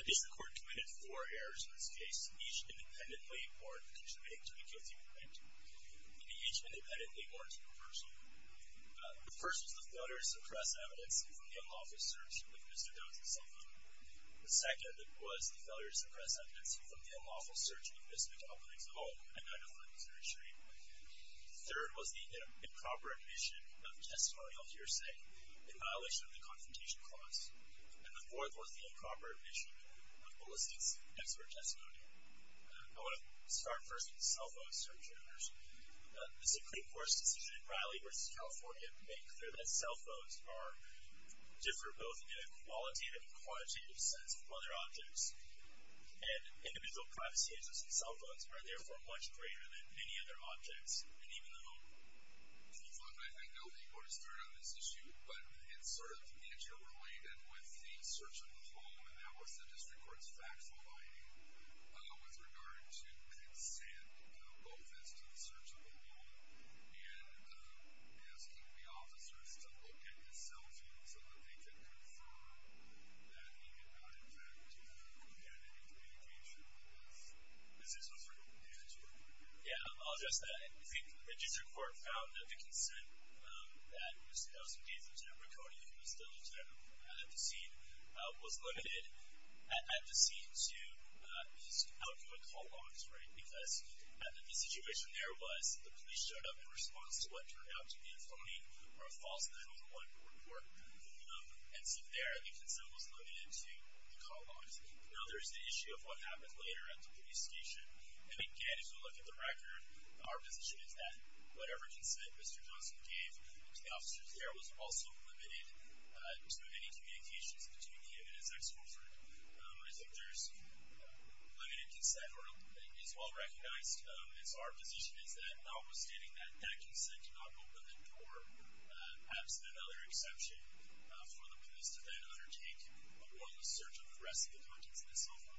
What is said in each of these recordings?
The District Court committed four errors in this case, each independently or to the K-3 complaint, and each independently or to the person. The first was the failure to suppress evidence from the unlawful search with Mr. Doe's cell phone. The second was the failure to suppress evidence from the unlawful search with Ms. McAuliffe's phone and underwent surgery. The third was the improper admission of testimonial hearsay in violation of the confrontation clause. And the fourth was the improper admission of ballistics expert testimony. I want to start first with the cell phone search errors. The Supreme Court's decision in Riley v. California made clear that cell phones differ both in qualitative and quantitative sense from other objects, and individual privacy interests in cell phones are therefore much greater than many other objects, and even the home. Chief, I know that you want to start on this issue, but it's sort of interrelated with the search of the home, and that was the District Court's factual finding with regard to consent both as to the search of the home and asking the officers to look at the cell phones and things like that. So, that being about it, I'm not too familiar with any of the communication because this was sort of handed to me. Yeah, I'll address that. I think the District Court found that the consent that was given to Ms. McAuliffe, who was still detained at the scene, was limited at the scene to these outgoing call logs, right? Because the situation there was the police showed up in response to what turned out to be a phony or a false 911 report, and so there the consent was limited to the call logs. Now, there's the issue of what happened later at the police station, and again, if you look at the record, our position is that whatever consent Mr. Johnson gave to the officers there was also limited to any communications between him and his ex-boyfriend. I think there's limited consent, or it is well recognized, and so our position is that notwithstanding that, that consent cannot go within court. Perhaps another exception for the police to then undertake a warrantless search of the rest of the contents of the cell phone. Okay. Thank you, Mr. Chairman. I know that you have a history of specifically establishing consent for the search of the phone, which as I understand it was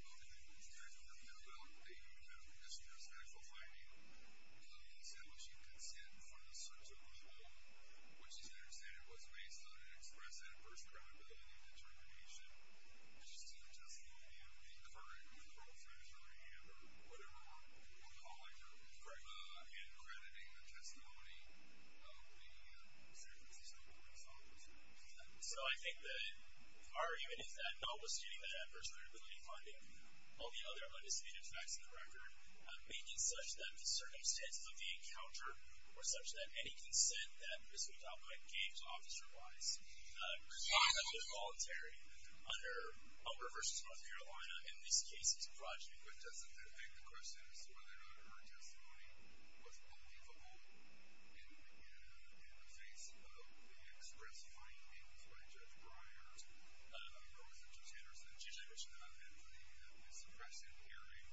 based on an express adverse credibility determination, which is to just look at the current number of friends that I have, or whatever I'm calling it. Correct. And crediting the testimony of the circumstances that you were involved in. So I think that our argument is that notwithstanding the adverse credibility finding, all the other undisputed facts in the record make it such that the circumstances of the encounter were such that any consent that Mr. McAuliffe gave to officer-wise could not be voluntary under Humber v. North Carolina, and in this case it's fraudulent consent. But doesn't that beg the question as to whether or not her testimony was believable in the face of the express findings by Judge Breyer, or was it Judge Anderson? Judge Anderson. In the suppressive hearing,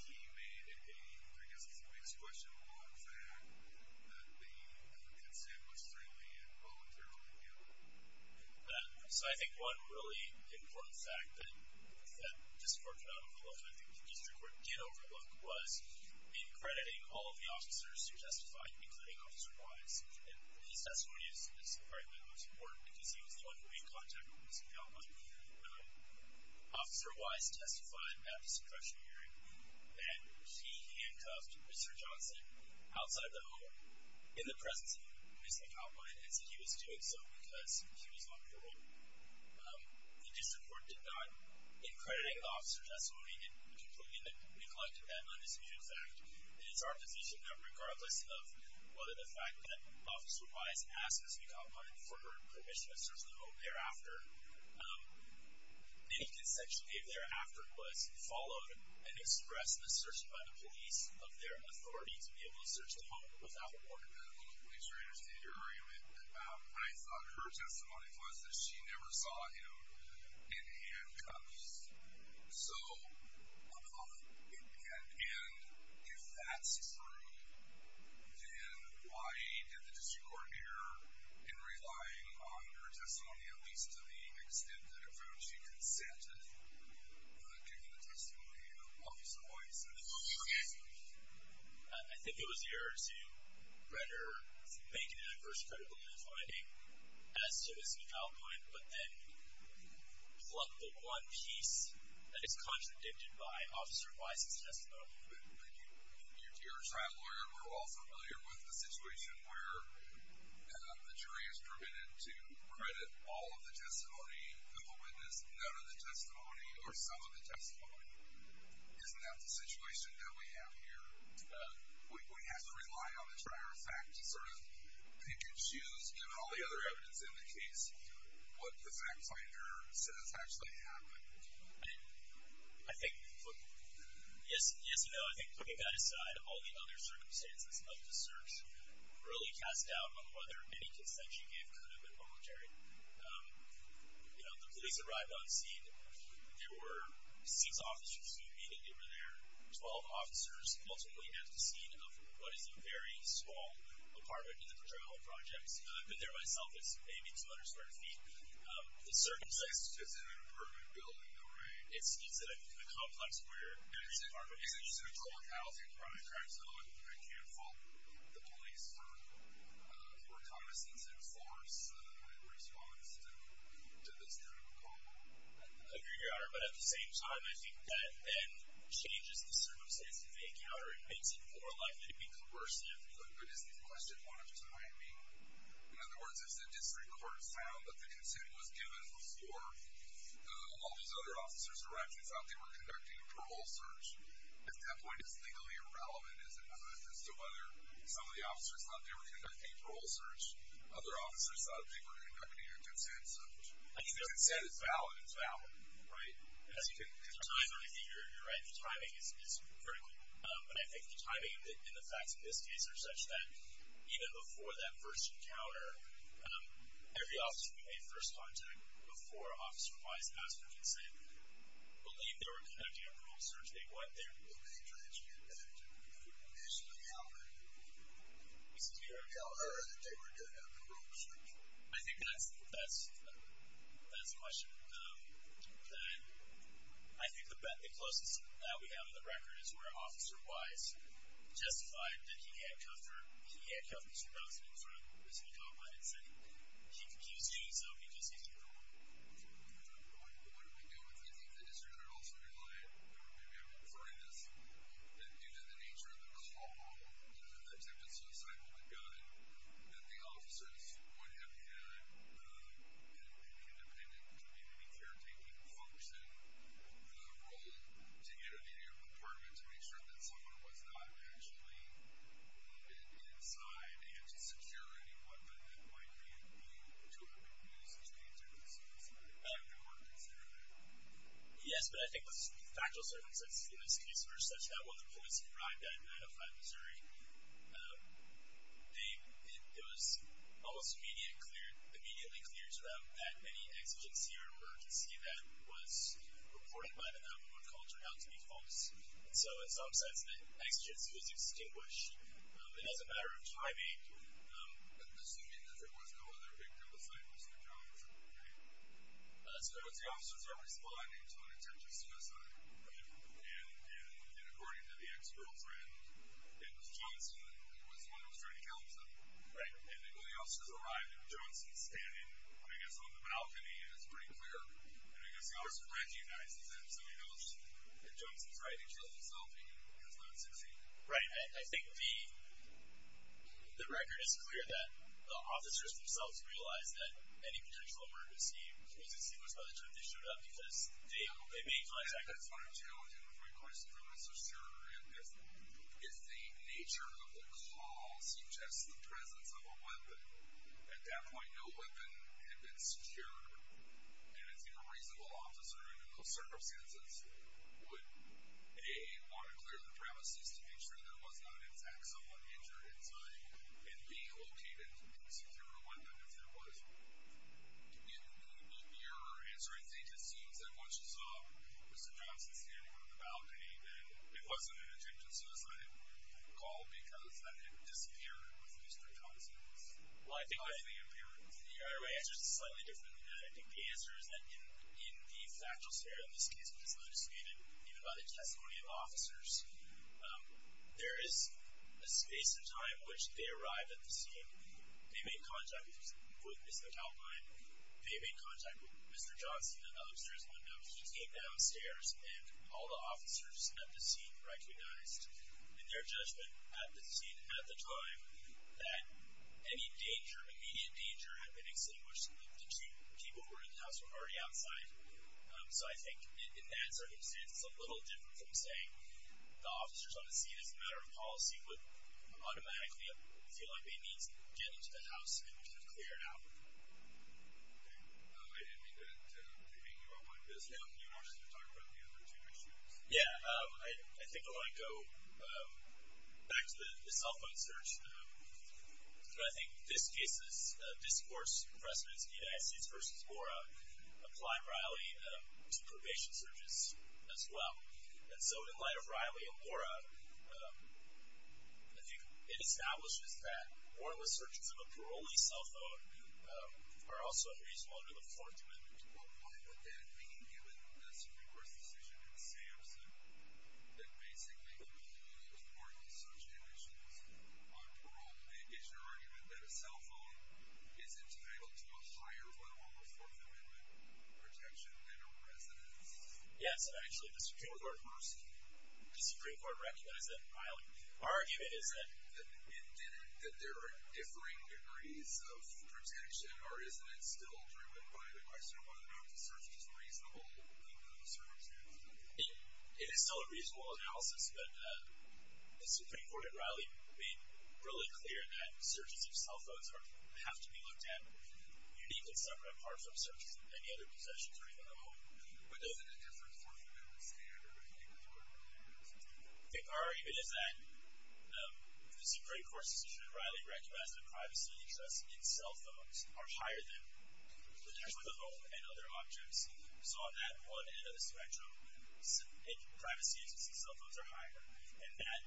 he made a, I guess, a biased question on the fact that the consent was certainly involuntarily given. So I think one really important fact that Mr. McAuliffe and the district court did overlook was in crediting all of the officers who testified, including officer-wise. His testimony is probably the most important because he was the one who made contact with Mr. McAuliffe. Officer-wise testified at the suppressive hearing that he handcuffed Mr. Johnson outside the presence of Mr. McAuliffe and said he was doing so because he was on parole. The district court did not, in crediting the officers' testimony and concluding that we collected that nondisputed fact, it is our position that regardless of whether the fact that officer-wise asked Mr. McAuliffe for permission to search the home thereafter, any consent she gave thereafter was followed and expressed in the search by the police of their authority to be able to search the home without a warrant. I don't know if the police are interested in your argument, but I thought her testimony was that she never saw him in handcuffs. So, and if that's true, then why did the district court here, in relying on her testimony at least to the extent that it found she consented, given the testimony of officer-wise, I think it was the error to render, make an adverse credibility finding as to this foul point, but then pluck the one piece that is contradicted by officer-wise's testimony. Thank you. You, dear trial lawyer, we're all familiar with the situation where the jury is permitted to credit all of the testimony. Who will witness none of the testimony or some of the testimony? Isn't that the situation that we have here? We have to rely on the prior fact to sort of pick and choose, given all the other evidence in the case, what the fact finder says actually happened. I think, yes and no. I think putting that aside, all the other circumstances of the search really cast doubt on whether any consent she gave could have been voluntary. You know, the police arrived on scene. There were six officers who immediately were there. Twelve officers ultimately left the scene of what is a very small apartment in the Patrol Projects. You know, I've been there myself. It's maybe 200 square feet. The circumstances... It's in an apartment building, though, right? It's in a complex where... And it's an apartment building. It's in a dual-locality apartment, correct? So I can't fault the police for condescending force in response to this true call. I agree, Your Honor. But at the same time, I think that then changes the circumstances of the encounter. It makes it more likely to be coercive. But isn't the question one of two? I mean, in other words, if the district court found that the consent was given before all these other officers arrived and found they were conducting a parole search, at that point, is legally irrelevant, is it not? As to whether some of the officers thought they were conducting a parole search, other officers thought they were conducting a consent search. The consent is valid. It's valid. Right? As you can tell, Your Honor, I think you're right. The timing is critical. And I think the timing and the facts in this case are such that even before that first encounter, every officer who made first contact before Officer Wise asked for consent believed they were conducting a parole search. They went there. Well, they tried to get that to conclude initially, however. You're telling her that they were conducting a parole search? I think that's the question. I think the closest that we have to the record is where Officer Wise justified that he had come from. He had come from 2000 in front of Mr. Copeland and said he could use you, so he just used you. What do we do with it? I think the district could also rely, and maybe I'm referring to this, that due to the nature of the small-volume attempted suicidal gun that the officers would have had an independent community caretaker who functioned the role to get into your apartment to make sure that someone was not actually inside and to secure any weapon that might be of use to you. Yes, but I think the factual circumstances in this case were such that when the police arrived at 905 Missouri, it was almost immediately clear to them that any exigency or emergency that was reported by the 911 call turned out to be false. So in some sense, the exigency was extinguished. As a matter of timing, assuming that there was no other victim besides Mr. Johnson, as far as the officers are responding to an attempted suicide, and according to the ex-girlfriend, it was Johnson who was the one who was trying to kill himself, and when the officers arrived and Johnson's standing, I guess on the balcony, it's pretty clear, and I guess the officers recognize that somebody else, if Johnson's right, he killed himself and he has not succeeded. Right, and I think the record is clear that the officers themselves realized that any potential emergency was extinguished by the time they showed up because they made contact. And that's what I'm telling you, the frequency limits are sure, and if the nature of the call suggests the presence of a weapon, at that point, no weapon had been secured, and a reasonable officer in those circumstances would want to clear the premises to make sure that there was not an intact someone injured inside and be located and secure a weapon if there was. In your answer, I think it seems that once you saw Mr. Johnson standing on the balcony, then it wasn't an attempted suicide call because that had disappeared with Mr. Johnson's I think my answer is slightly different than that. I think the answer is that in the factual scenario in this case, which is not disputed, even by the testimony of officers, there is a space in time in which they arrived at the scene, they made contact with Mr. Kalkwein, they made contact with Mr. Johnson, and the upstairs windows came downstairs, and all the officers at the scene recognized in their judgment at the scene at the time that any danger, immediate danger, had been extinguished if the two people who were in the house were already outside. So I think in that circumstance, it's a little different from saying the officers on the scene, as a matter of policy, would automatically, if they feel like they need to, get into the house and clear it out. Okay. I didn't mean to make you all white, but I was hoping you wanted to talk about the other two issues. Yeah. I think I want to go back to the cell phone search, but I think this case's discourse precedence in United States v. Lora applied rightly to probation searches as well. And so in light of Riley and Lora, I think it establishes that warrantless searches of a parolee's cell phone are also unreasonable under the Fourth Amendment. Well, why would that mean, given the Supreme Court's decision in Sampson, that basically the Supreme Court has warrantless search conditions on parole? And is your argument that a cell phone is entitled to a higher level of Fourth Amendment protection than a residence? Yes. Actually, the Supreme Court first, the Supreme Court recognized that in Riley. My argument is that there are differing degrees of protection, or isn't it still driven by cell phone? I don't know if the search is reasonable in those circumstances. It is still a reasonable analysis, but the Supreme Court at Riley made really clear that searches of cell phones have to be looked at uniquely separate apart from searches of any other possessions or even at home. But doesn't a different Fourth Amendment standard make that a requirement? Our argument is that the Supreme Court's decision at Riley recognizes that privacy interests in cell phones are higher than interests with a home and other objects. So on that one end of the spectrum, privacy interests in cell phones are higher. And that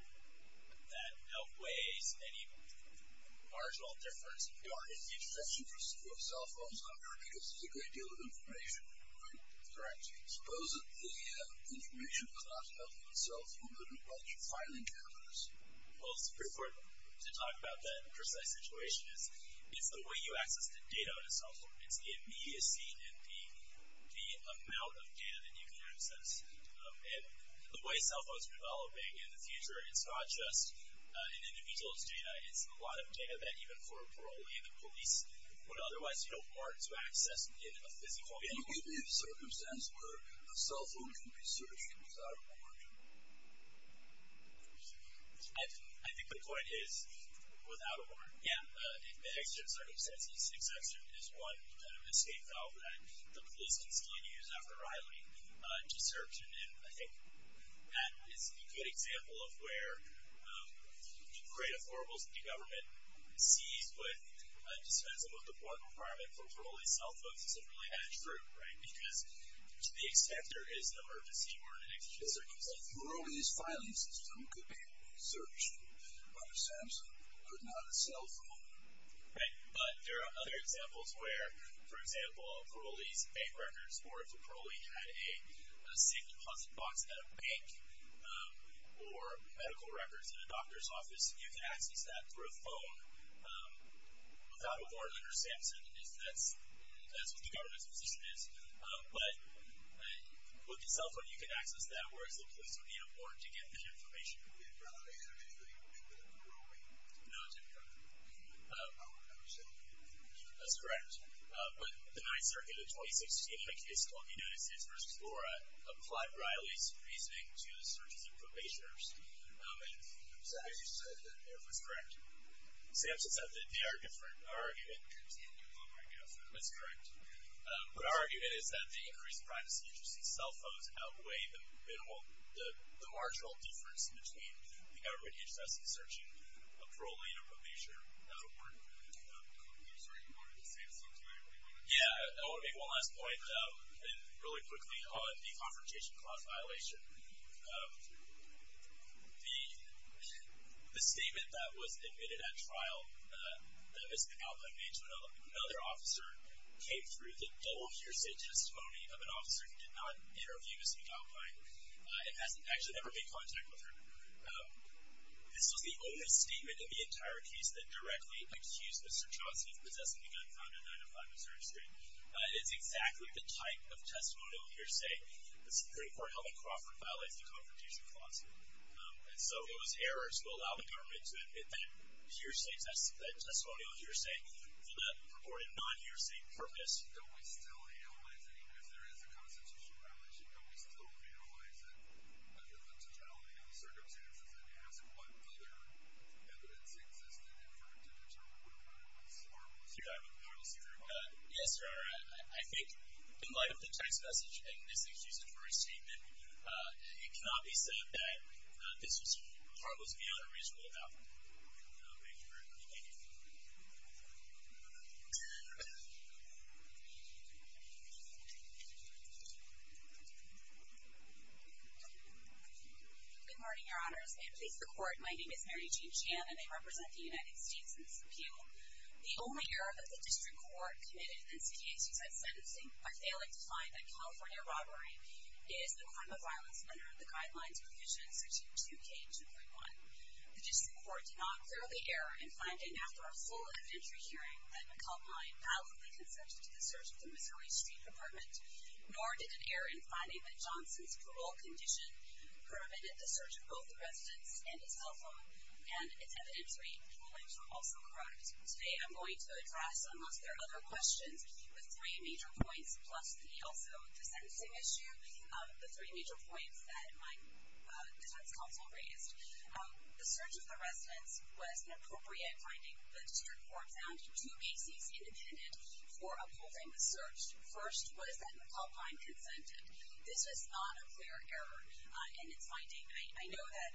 outweighs any marginal difference. Your argument is that the interest interests of cell phones are higher because there's a great deal of information, right? Correct. Suppose that the information was not held in a cell phone, but in a bunch of filing cabinets. Well, it's pretty important to talk about that in a precise situation. It's the way you access the data on a cell phone. It's the immediacy and the amount of data that you can access. And the way cell phones are developing in the future, it's not just an individual's data. It's a lot of data that even for a parolee and the police would otherwise be able to access in a physical way. Can you give me a circumstance where a cell phone can be searched without a warrant? I think the point is without a warrant. Yeah. In the exception of circumstances, exception is one kind of escape valve that the police can still use after Riley to search. And I think that is a good example of where you create a horrible city government seized with a dispensable deployment requirement for parolee cell phones isn't really that true, right? Because to the extent there is an emergency or an extreme circumstance. A parolee's filing system could be searched on a Samsung, but not a cell phone. Right. But there are other examples where, for example, a parolee's bank records or if a parolee had a safe deposit box at a bank or medical records in a doctor's office, you can access that through a phone without a warrant under Samsung. That's what the government's position is. But with a cell phone, you can access that, whereas the police don't need a warrant to get that information. And Riley isn't actually included in the parolee? No, he's not. I would never say that. That's correct. But the 9th Circuit of 2016, like it's called, you notice it's for Explorer, applied Riley's reasoning to the searches of probationers. I'm sorry, you said that. That's correct. Samsung said that. They argued for it. Our argument is that the increased privacy of cell phones outweigh the marginal difference between the government interested in searching a parolee or probationer. I'm sorry, you wanted to say something to me? Yeah, I want to make one last point really quickly on the Confrontation Clause violation. The statement that was admitted at trial that Ms. McAlpine made to another officer came through the double hearsay testimony of an officer who did not interview Ms. McAlpine and has actually never made contact with her. This was the only statement in the entire case that directly accused Mr. Johnson of possessing a gun found in 905 Missouri Street. It's exactly the type of testimonial hearsay the Supreme Court held in Crawford violates the Confrontation Clause. And so those errors will allow the government to admit that hearsay testimonial hearsay for the purported non-hearsay purpose. Don't we still analyze it even if there is a Constitutional violation? Don't we still analyze it under the totality of the circumstances and ask what other evidence existed in front of each other with Ms. McAlpine? Yes, sir. I think in light of the text message and Ms. McAlpine's use of her statement, it cannot be said that this was part of a violation of Ms. McAlpine. Thank you very much. Thank you. Good morning, Your Honors. May it please the Court, my name is Mary Jean Chan and I represent the United States in this appeal. The only error that the District Court committed in this case besides sentencing by failing to find a California robbery is the crime of violence under the Guidelines Provision 62K2.1. The District Court did not clearly err in finding after a full evidentiary hearing that McAlpine validly consented to the search of the Missouri Street apartment, nor did it err in finding that Johnson's parole condition permitted the search of both the residence and his cell phone, and its evidentiary claims were also correct. Today I'm going to address some of their other questions with three major points plus the also the sentencing issue, the three major points that my defense counsel raised. The search of the residence was an appropriate finding. The District Court found two bases independent for upholding the search. First was that McAlpine consented. This is not a clear error in its finding. I know that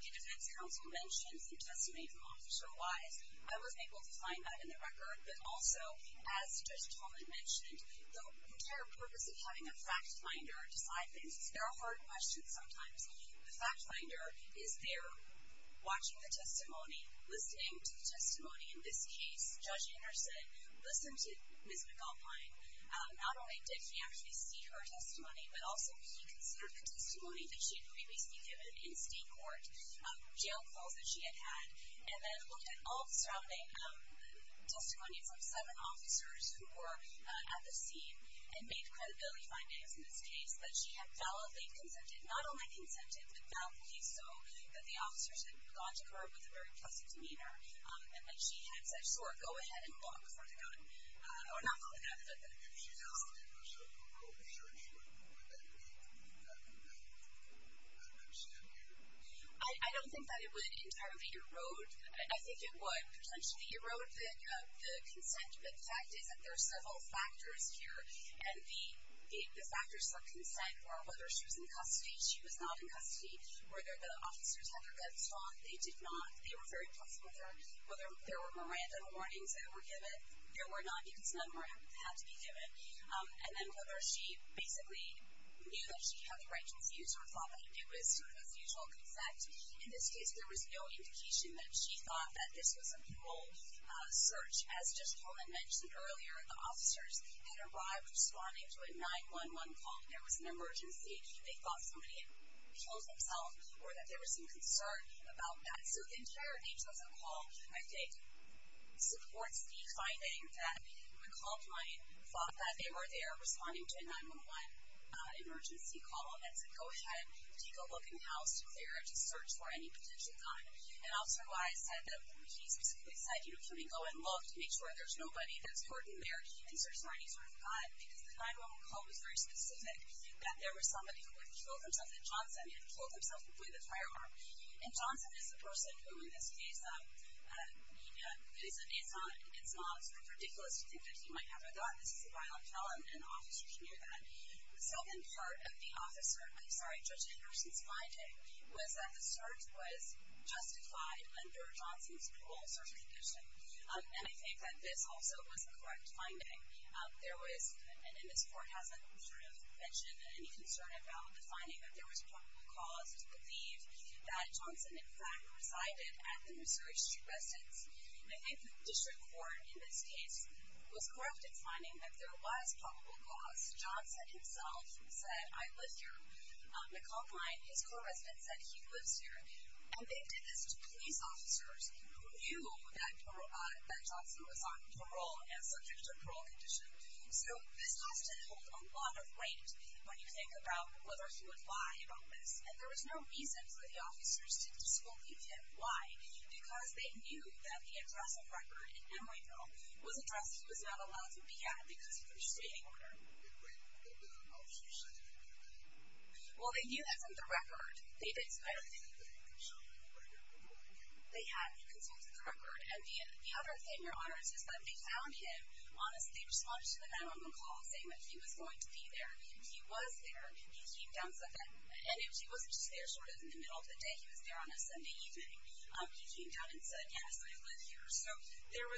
the defense counsel mentioned some testimony from Officer Wise. I wasn't able to find that in the record, but also as Judge Tolman mentioned, the entire purpose of having a fact finder decide things is they're a hard question sometimes. The fact finder is there watching the testimony, listening to the testimony. In this case, Judge Anderson listened to Ms. McAlpine. Not only did he actually see her testimony, but also he considered the testimony that she had previously given in state court, jail calls that she had had, and then looked at all the surrounding testimonies of seven officers who were at the scene and made credibility findings in this case that she had validly consented, not only consented, but validly so, that the officers had gone to her with a very pleasant demeanor, and that she had said, sure, go ahead and walk from the gun, or not from the gun, but that she did not stand herself up for her own insurance, but that she did not do that. I don't understand either. I don't think that it would entirely erode. I think it would potentially erode the consent, but the fact is that there are several factors here, and the factors for consent were whether she was in custody, she was not in custody, whether the officers had their guns on, they did not. They were very pleasant with her. Whether there were more random warnings that were given, there were not, because none were had to be given. And then whether she basically knew that she had the right to refuse or thought that it was sort of a feasible consent. In this case, there was no indication that she thought that this was a cruel search. As just Colin mentioned earlier, the officers had arrived responding to a 911 call. There was an emergency. They thought somebody had killed themselves or that there was some concern about that. So the entire nature of the call, I think, supports the finding that the call client thought that they were there responding to a 911 emergency call and said, go ahead, take a look in the house to clear it, just search for any potential gun. And Officer Wise said that he specifically said, you know, can we go and look to make sure there's nobody that's hurting there and search for any sort of gun, because the 911 call was very specific, that there was somebody who had killed themselves, and Johnson had killed himself before the firearm. And Johnson is the person who, in this case, it's not sort of ridiculous to think that he might have or thought. This is a violent felon, and officers knew that. The second part of the officer – I'm sorry, Judge Anderson's finding was that the search was justified under Johnson's cruel search condition. And I think that this also was the correct finding. There was – and Ms. Ford hasn't sort of mentioned any concern about the finding that there was probable cause to believe that Johnson, in fact, resided at the Missouri Street residence. And I think the district court, in this case, was correct in finding that there was probable cause. Johnson himself said, I live here. The call client, his co-resident, said he lives here. And they did this to police officers who knew that Johnson was on parole and subject to a parole condition. So this has to hold a lot of weight when you think about whether he would lie about this. And there was no reason for the officers to disbelieve him. Why? Because they knew that the address of record in Emeryville was a dress he was not allowed to be at because of the restraining order. Well, they knew that from the record. They had concerns with the record. And the other thing, Your Honor, is that when they found him, honestly, the response to the man on the call saying that he was going to be there, he was there, he came down and said that. And he wasn't just there sort of in the middle of the day. He was there on a Sunday evening. He came down and said, yes, I live here. So there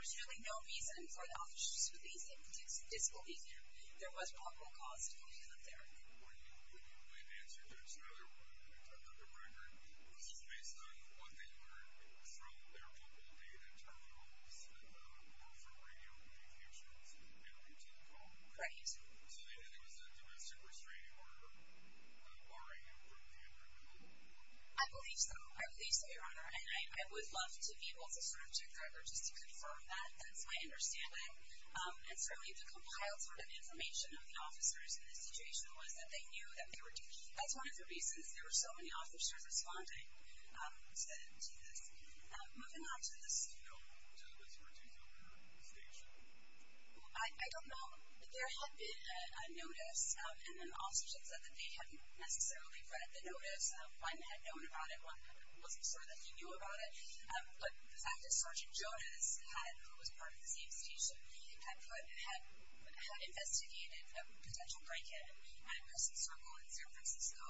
was really no reason for the officers to be able to disbelieve him. There was probable cause to believe that there. In answer to another one, another record, was based on what they heard from their mobile data terminals or from radio communications in a routine call? Correct. So they knew it was a domestic restraining order barring him from being at Emeryville? I believe so. I believe so, Your Honor. And I would love to be able to sort of check that or just to confirm that. That's my understanding. And certainly the compiled sort of information of the officers in this situation was that they knew that they were deceived. That's one of the reasons there were so many officers responding to this. Moving on to this. Do you know to what extent he was at the station? I don't know. There had been a notice, and then officers had said that they hadn't necessarily read the notice. One had known about it. One wasn't sure that he knew about it. But the fact that Sergeant Jonas, who was part of the same station, had investigated a potential break-in at Preston Circle in San Francisco,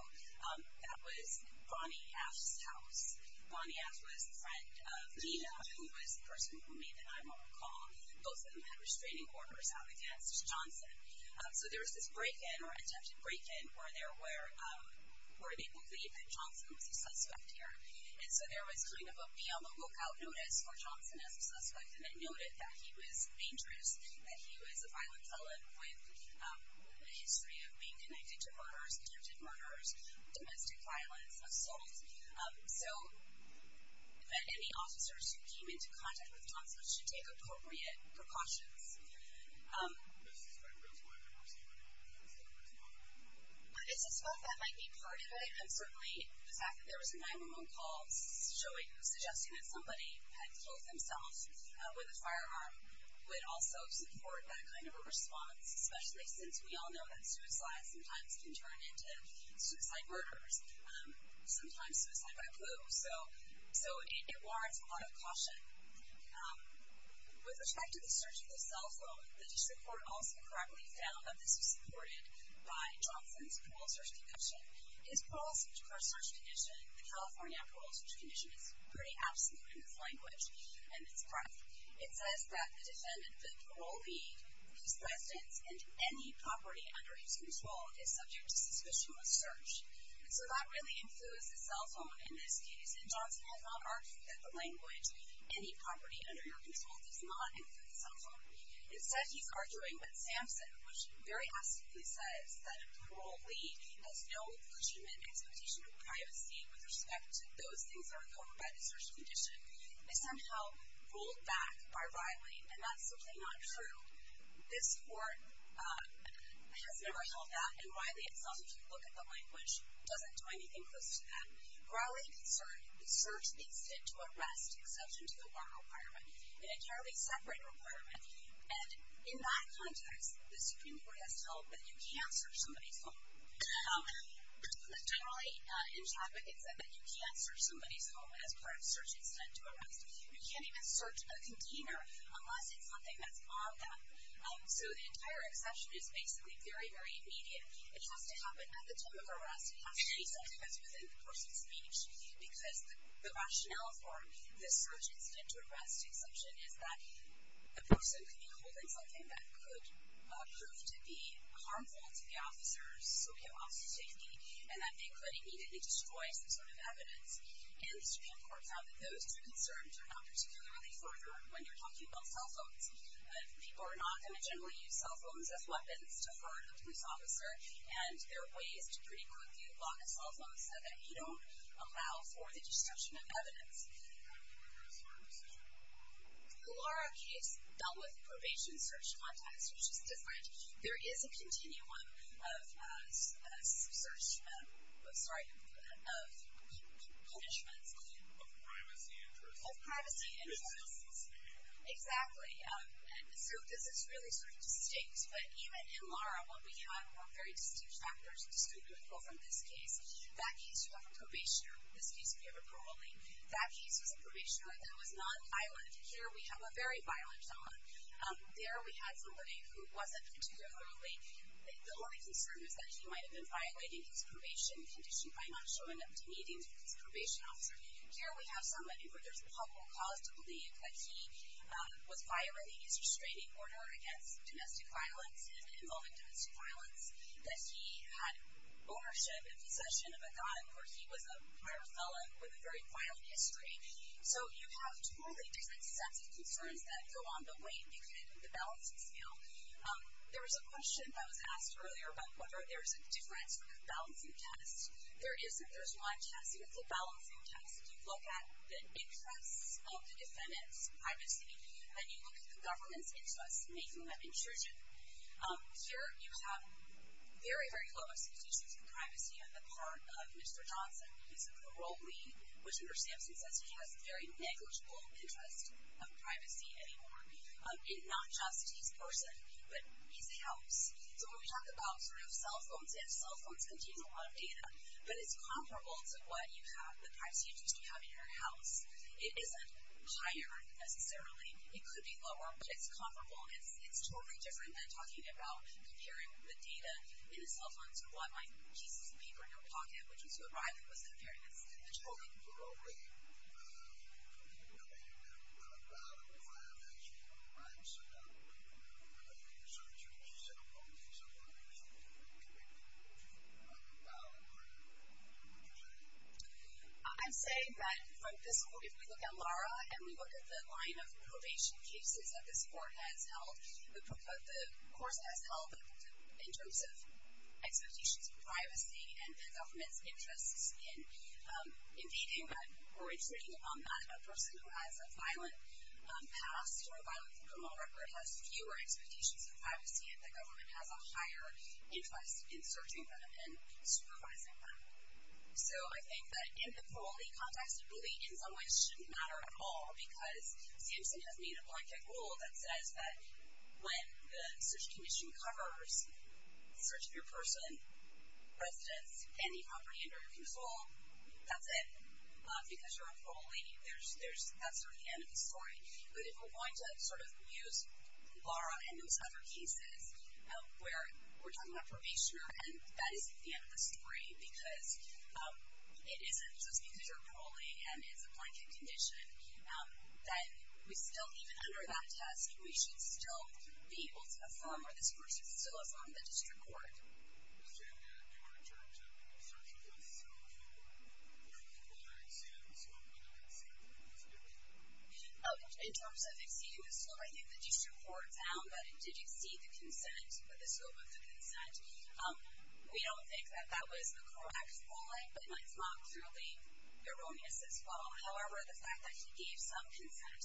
that was Bonnie Ash's house. Bonnie Ash was a friend of Gina, who was the person who made the 9-1-1 call. Both of them had restraining orders out against Johnson. So there was this break-in or attempted break-in where they believed that Johnson was a suspect here. And so there was kind of a be-on-the-lookout notice for Johnson as a suspect, and it noted that he was dangerous, that he was a violent felon with a history of being connected to murderers, attempted murderers, domestic violence, assaults. So that any officers who came into contact with Johnson should take appropriate precautions. Does this strike a groundswell in their perceiving that he was a suspect? It's a spot that might be part of it. And certainly the fact that there was a 9-1-1 call suggesting that somebody had killed themselves with a firearm would also support that kind of a response, especially since we all know that suicide sometimes can turn into suicide murders, sometimes suicide by flu. So it warrants a lot of caution. With respect to the search of the cell phone, the district court also correctly found that this was supported by Johnson's cruel search concoction. His parole search condition, the California Parole Search Condition, is pretty absolute in this language, and it's correct. It says that the defendant, the parole lead, his residence, and any property under his control is subject to suspicionless search. So that really includes the cell phone in this case, and Johnson has not argued that the language any property under your control does not include the cell phone. It said he's arguing with Samson, which very absently says that a parole lead has no legitimate expectation of privacy with respect to those things that are covered by the search condition. It's somehow ruled back by Riley, and that's simply not true. This court has never held that, and Riley itself, if you look at the language, doesn't do anything close to that. Riley concerned the search needs to arrest, exception to the warrant requirement, an entirely separate requirement. And in that context, the Supreme Court has told that you can't search somebody's home. Generally, in traffic, it said that you can't search somebody's home as part of search intent to arrest. You can't even search a container unless it's something that's on them. So the entire exception is basically very, very immediate. It has to happen at the time of arrest. It has to be something that's within the person's reach, because the rationale for the search intent to arrest exception is that the person could be holding something that could prove to be harmful to the officer's safety, and that they could immediately destroy some sort of evidence. And the Supreme Court found that those two concerns are not particularly further when you're talking about cell phones. People are not going to generally use cell phones as weapons to hurt a police officer, and there are ways to pretty quickly block a cell phone so that you don't allow for the destruction of evidence. How do we reverse our decision? The Lara case dealt with probation search context, which is different. There is a continuum of search... Sorry, of punishments. Of privacy interests. Of privacy interests. Exactly. And so this is really sort of distinct, but even in Lara, what we have are very distinct factors, distinct people from this case. That case, you have a probationer. This case, we have a parolee. That case was a probationer that was non-violent. Here we have a very violent someone. There we had somebody who wasn't particularly... The only concern is that he might have been violating his probation condition by not showing up to meetings with his probation officer. Here we have somebody where there's a probable cause to believe that he was violating his restraining order against domestic violence and involving domestic violence, that he had ownership and possession of a gun, or he was a minor felon with a very violent history. So you have totally different sets of concerns that go on the way you look at the balancing scale. There was a question that was asked earlier about whether there's a difference with a balancing test. There isn't. There's one test. It's a balancing test. You look at the interests of the defendant's privacy, and you look at the government's interests, making them intrusion. Here you have very, very low expectations for privacy on the part of Mr. Johnson, his parole lead, which under Sampson says he has very negligible interest of privacy anymore. Not just his person, but his house. So when we talk about sort of cell phones, and cell phones contain a lot of data, but it's comparable to what you have, the privacy interests you have in your house. It isn't higher necessarily. It could be lower, but it's comparable. It's totally different than talking about comparing the data in a cell phone to what my pieces of paper in your pocket would use to arrive at most of the evidence. It's totally different. I'm saying that from this court, if we look at Laura, and we look at the line of probation cases that this court has held, the course has held, in terms of expectations for privacy, and the government's interest in invading or intruding on that. A person who has a violent past or a violent criminal record has fewer expectations of privacy, and the government has a higher interest in searching them and supervising them. So I think that in the parole lead context, it really in some ways shouldn't matter at all, because Sampson has made a blanket rule that says that when the search condition covers the search of your person, residence, any property under your control, that's it. Because you're a parolee, that's sort of the end of the story. But if we're going to sort of use Laura and those other cases where we're talking about probation, and that isn't the end of the story because it isn't just because you're a parolee and it's a blanket condition, then we still, even under that test, we should still be able to affirm, or this course has still affirmed, the district court. In terms of exceeding the scope, I think the district court found that it did exceed the consent, or the scope of the consent. We don't think that that was a correct ruling, but it's not purely erroneous as well. However, the fact that he gave some consent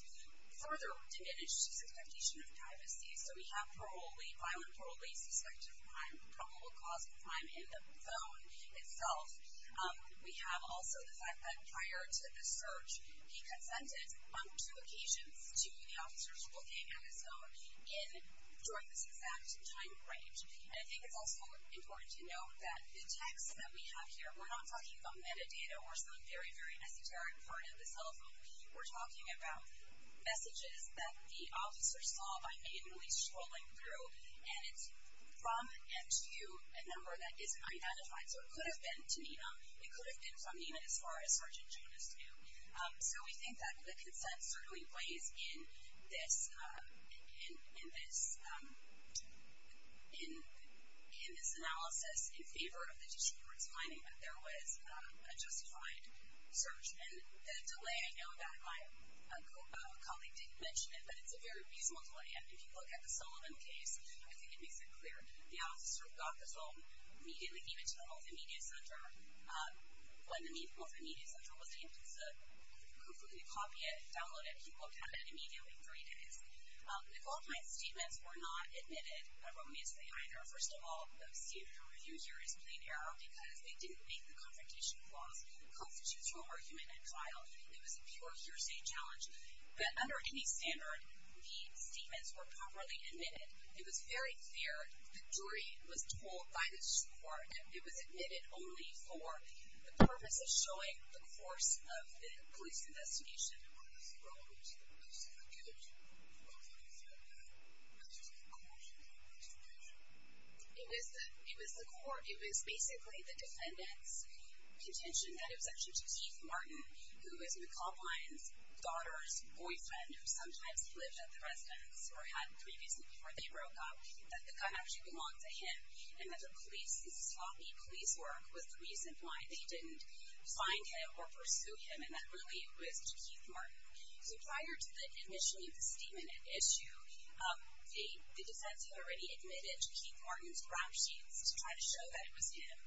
further diminished his expectation of privacy. So we have parolee, violent parolee, suspected of probable cause of crime in the phone itself. We have also the fact that prior to the search, he consented on two occasions to the officers looking at his phone during this exact time range. And I think it's also important to note that the text that we have here, we're not talking about metadata or some very, very esoteric part of his cell phone. We're talking about messages that the officer saw by made a noise scrolling through, and it's from and to a number that isn't identified. So it could have been to Nina. It could have been from Nina as far as Sergeant Jonas knew. So we think that the consent certainly plays in this analysis in favor of the district court's finding that there was a justified search. And the delay, I know that my colleague didn't mention it, but it's a very reasonable delay. And if you look at the Sullivan case, I think it makes it clear. The officer got the phone, immediately gave it to the Multimedia Center. When the Multimedia Center was able to completely copy it, download it, he looked at it immediately for three days. The Goldmine statements were not admitted erroneously either. First of all, the review here is plain error because they didn't make the confrontation clause that constitutes your argument at trial. It was a pure hearsay challenge. But under any standard, the statements were properly admitted. It was very clear. The jury was told by the district court that it was admitted only for the purpose of showing the course of the police investigation. One of the key elements of the police investigation was looking for the measures of coercion in the police investigation. It was basically the defendant's contention that it was actually to Keith Martin, who was McCall Blind's daughter's boyfriend who sometimes lived at the residence or had previously before they broke up, that the gun actually belonged to him and that the sloppy police work was the reason why they didn't find him or pursue him. And that really was to Keith Martin. So prior to initially the statement at issue, the defense had already admitted to Keith Martin's ground sheets to try to show that it was him.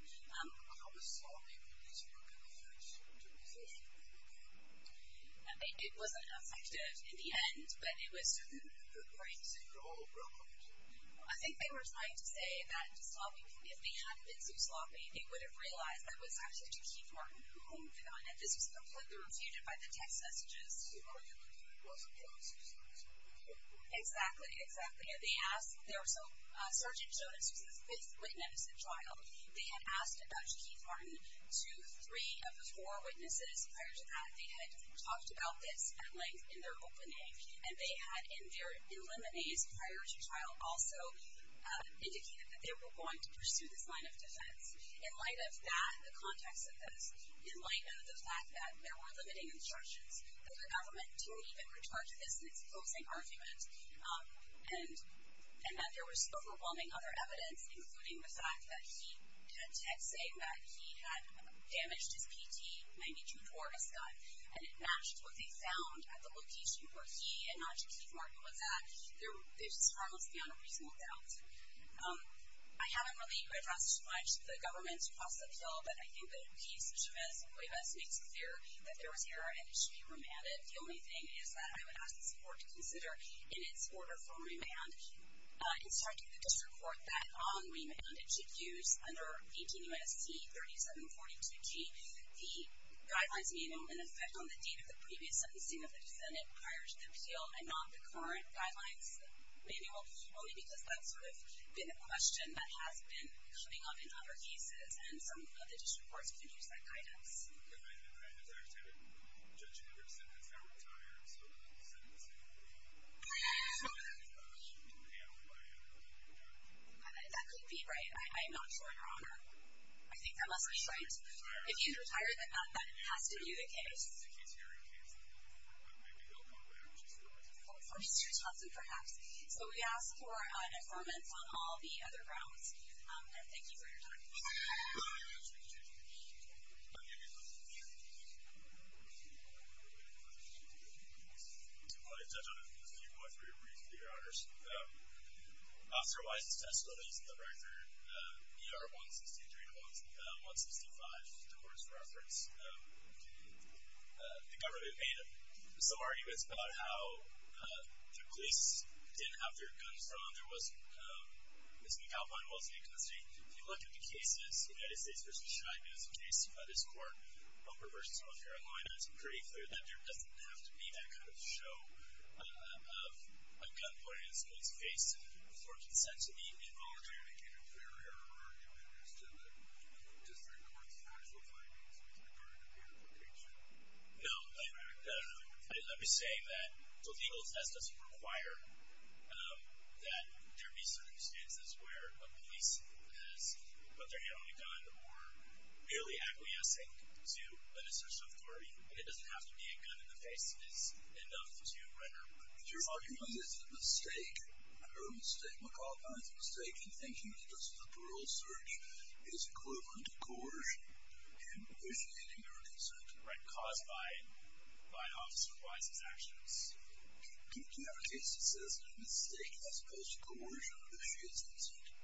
It wasn't effective in the end, but it was... I think they were trying to say that the sloppy police work hadn't been so sloppy. They would have realized that it was actually to Keith Martin, who owned the gun, and this was completely refuted by the text messages. It wasn't Jonas who said this. Exactly, exactly. They asked... Sergeant Jonas was the fifth witness at trial. They had asked about Keith Martin to three of the four witnesses prior to that. They had talked about this at length in their opening, and they had, in their preliminary priority trial, also indicated that they were going to pursue this line of defense. In light of that, the context of this, in light of the fact that there were limiting instructions, that the government didn't even return to this in its closing argument, and that there was overwhelming other evidence, including the fact that he had text saying that he had damaged his PT92 Dwarfist gun, and it matched what they found at the location where he and not just Keith Martin was at. There's just harmlessly unreasonable doubt. I haven't really addressed much the government's cross-up bill, but I think that a piece of this, that there was error and it should be remanded. The only thing is that I would ask this court to consider, in its order for remand, instructing the district court that on remand it should use, under 18 U.S.C. 3742G, the Guidelines Manual in effect on the date of the previous sentencing of the defendant prior to the appeal and not the current Guidelines Manual, only because that's sort of been a question that has been coming up in other cases, and some of the district courts can use that guidance. That could be right. I'm not sure, Your Honor. I think that must be right. If he's retired, then that has to be the case. For Mr. Thompson, perhaps. So we ask for an affirmance on all the other grounds, and thank you for your time. I want to touch on a few points for your brief, Your Honors. After Weiss's test studies, the record ER-163 and 165, the court's reference, the government made some arguments about how the police didn't have their guns on, Mr. McAlpine wasn't in custody. If you look at the cases, United States versus China, there's a case by this court, Humber versus North Carolina, it's pretty clear that there doesn't have to be that kind of show of a gun pointed in the police's face for consent to be involuntary. I can't hear your argument as to the district court's factual findings with regard to the application. No. Let me say that the legal test doesn't require that there be certain instances where a police has put their hand on a gun or merely acquiescing to an assertion of authority. It doesn't have to be a gun in the face. It's enough to render... Your argument is a mistake. Our mistake, Mr. McAlpine's mistake, in thinking that this is a parole search, is equivalent to coercion, and wishful thinking or consent. Right, caused by Officer Weiss's actions. Do you have a case that says a mistake as opposed to coercion is wishful thinking?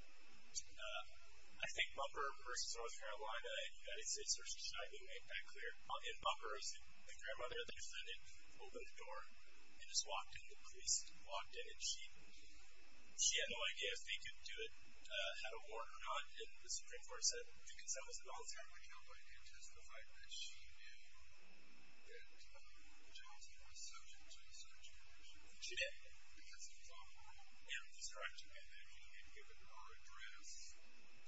I think Humber versus North Carolina and United States versus China, you made that clear. In Humber, the grandmother they defended opened the door and just walked in, the police walked in, and she had no idea if they could do it, had a warrant or not, and the Supreme Court said, do consent was an all-time requirement. McAlpine did testify that she knew that Johnson was subject to a search warrant. She did. Because he was on parole. Yeah, that's correct. And that he had given her address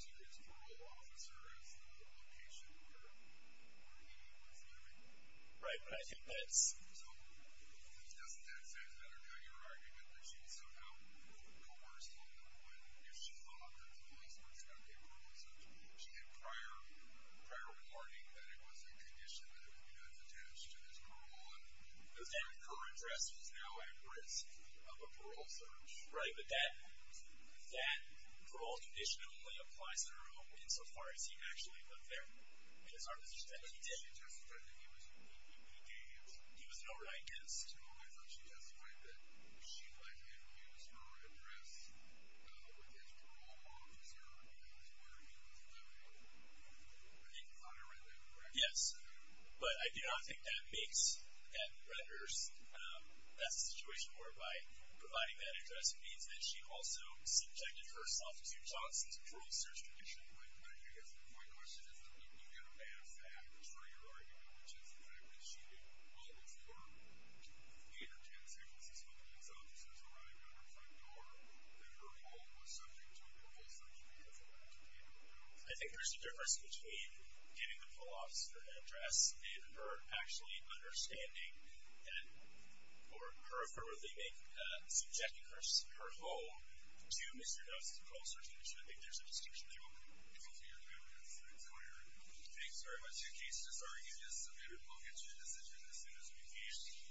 to his parole officer as the location where he was living. Right, but I think that's... So, doesn't that say something? I don't know your argument, but she was somehow coerced into it because she thought that the police were supposed to be on parole and such. She had prior warning that it was a condition that was attached to his parole. Her address was now at risk of a parole search. Right, but that parole condition only applies in her home insofar as he actually lived there in his armistice that he did. But he testified that he was... He was no right guest. I thought she testified that she, like him, used her address with his parole officer as where he was living. I think you caught it right there, correct? Yes. But I do not think that makes that her... that's the situation where by providing that address it means that she also subjected herself to Johnson's parole search condition. Right, but I guess my question is, do you get a bad fact for your argument, which is the fact that she did all of her entertainment services when police officers arrived at her front door and her home was subject to a parole search in order for her to be in her home? I think there's a difference between getting the parole officer an address and her actually understanding and... or her affirmatively making... subjecting her home to Mr. Johnson's parole search condition. I think there's a distinction there. Thank you for your arguments. Thanks for your... Thanks very much. Your case is disarguing. This is a better parole condition decision as soon as we can.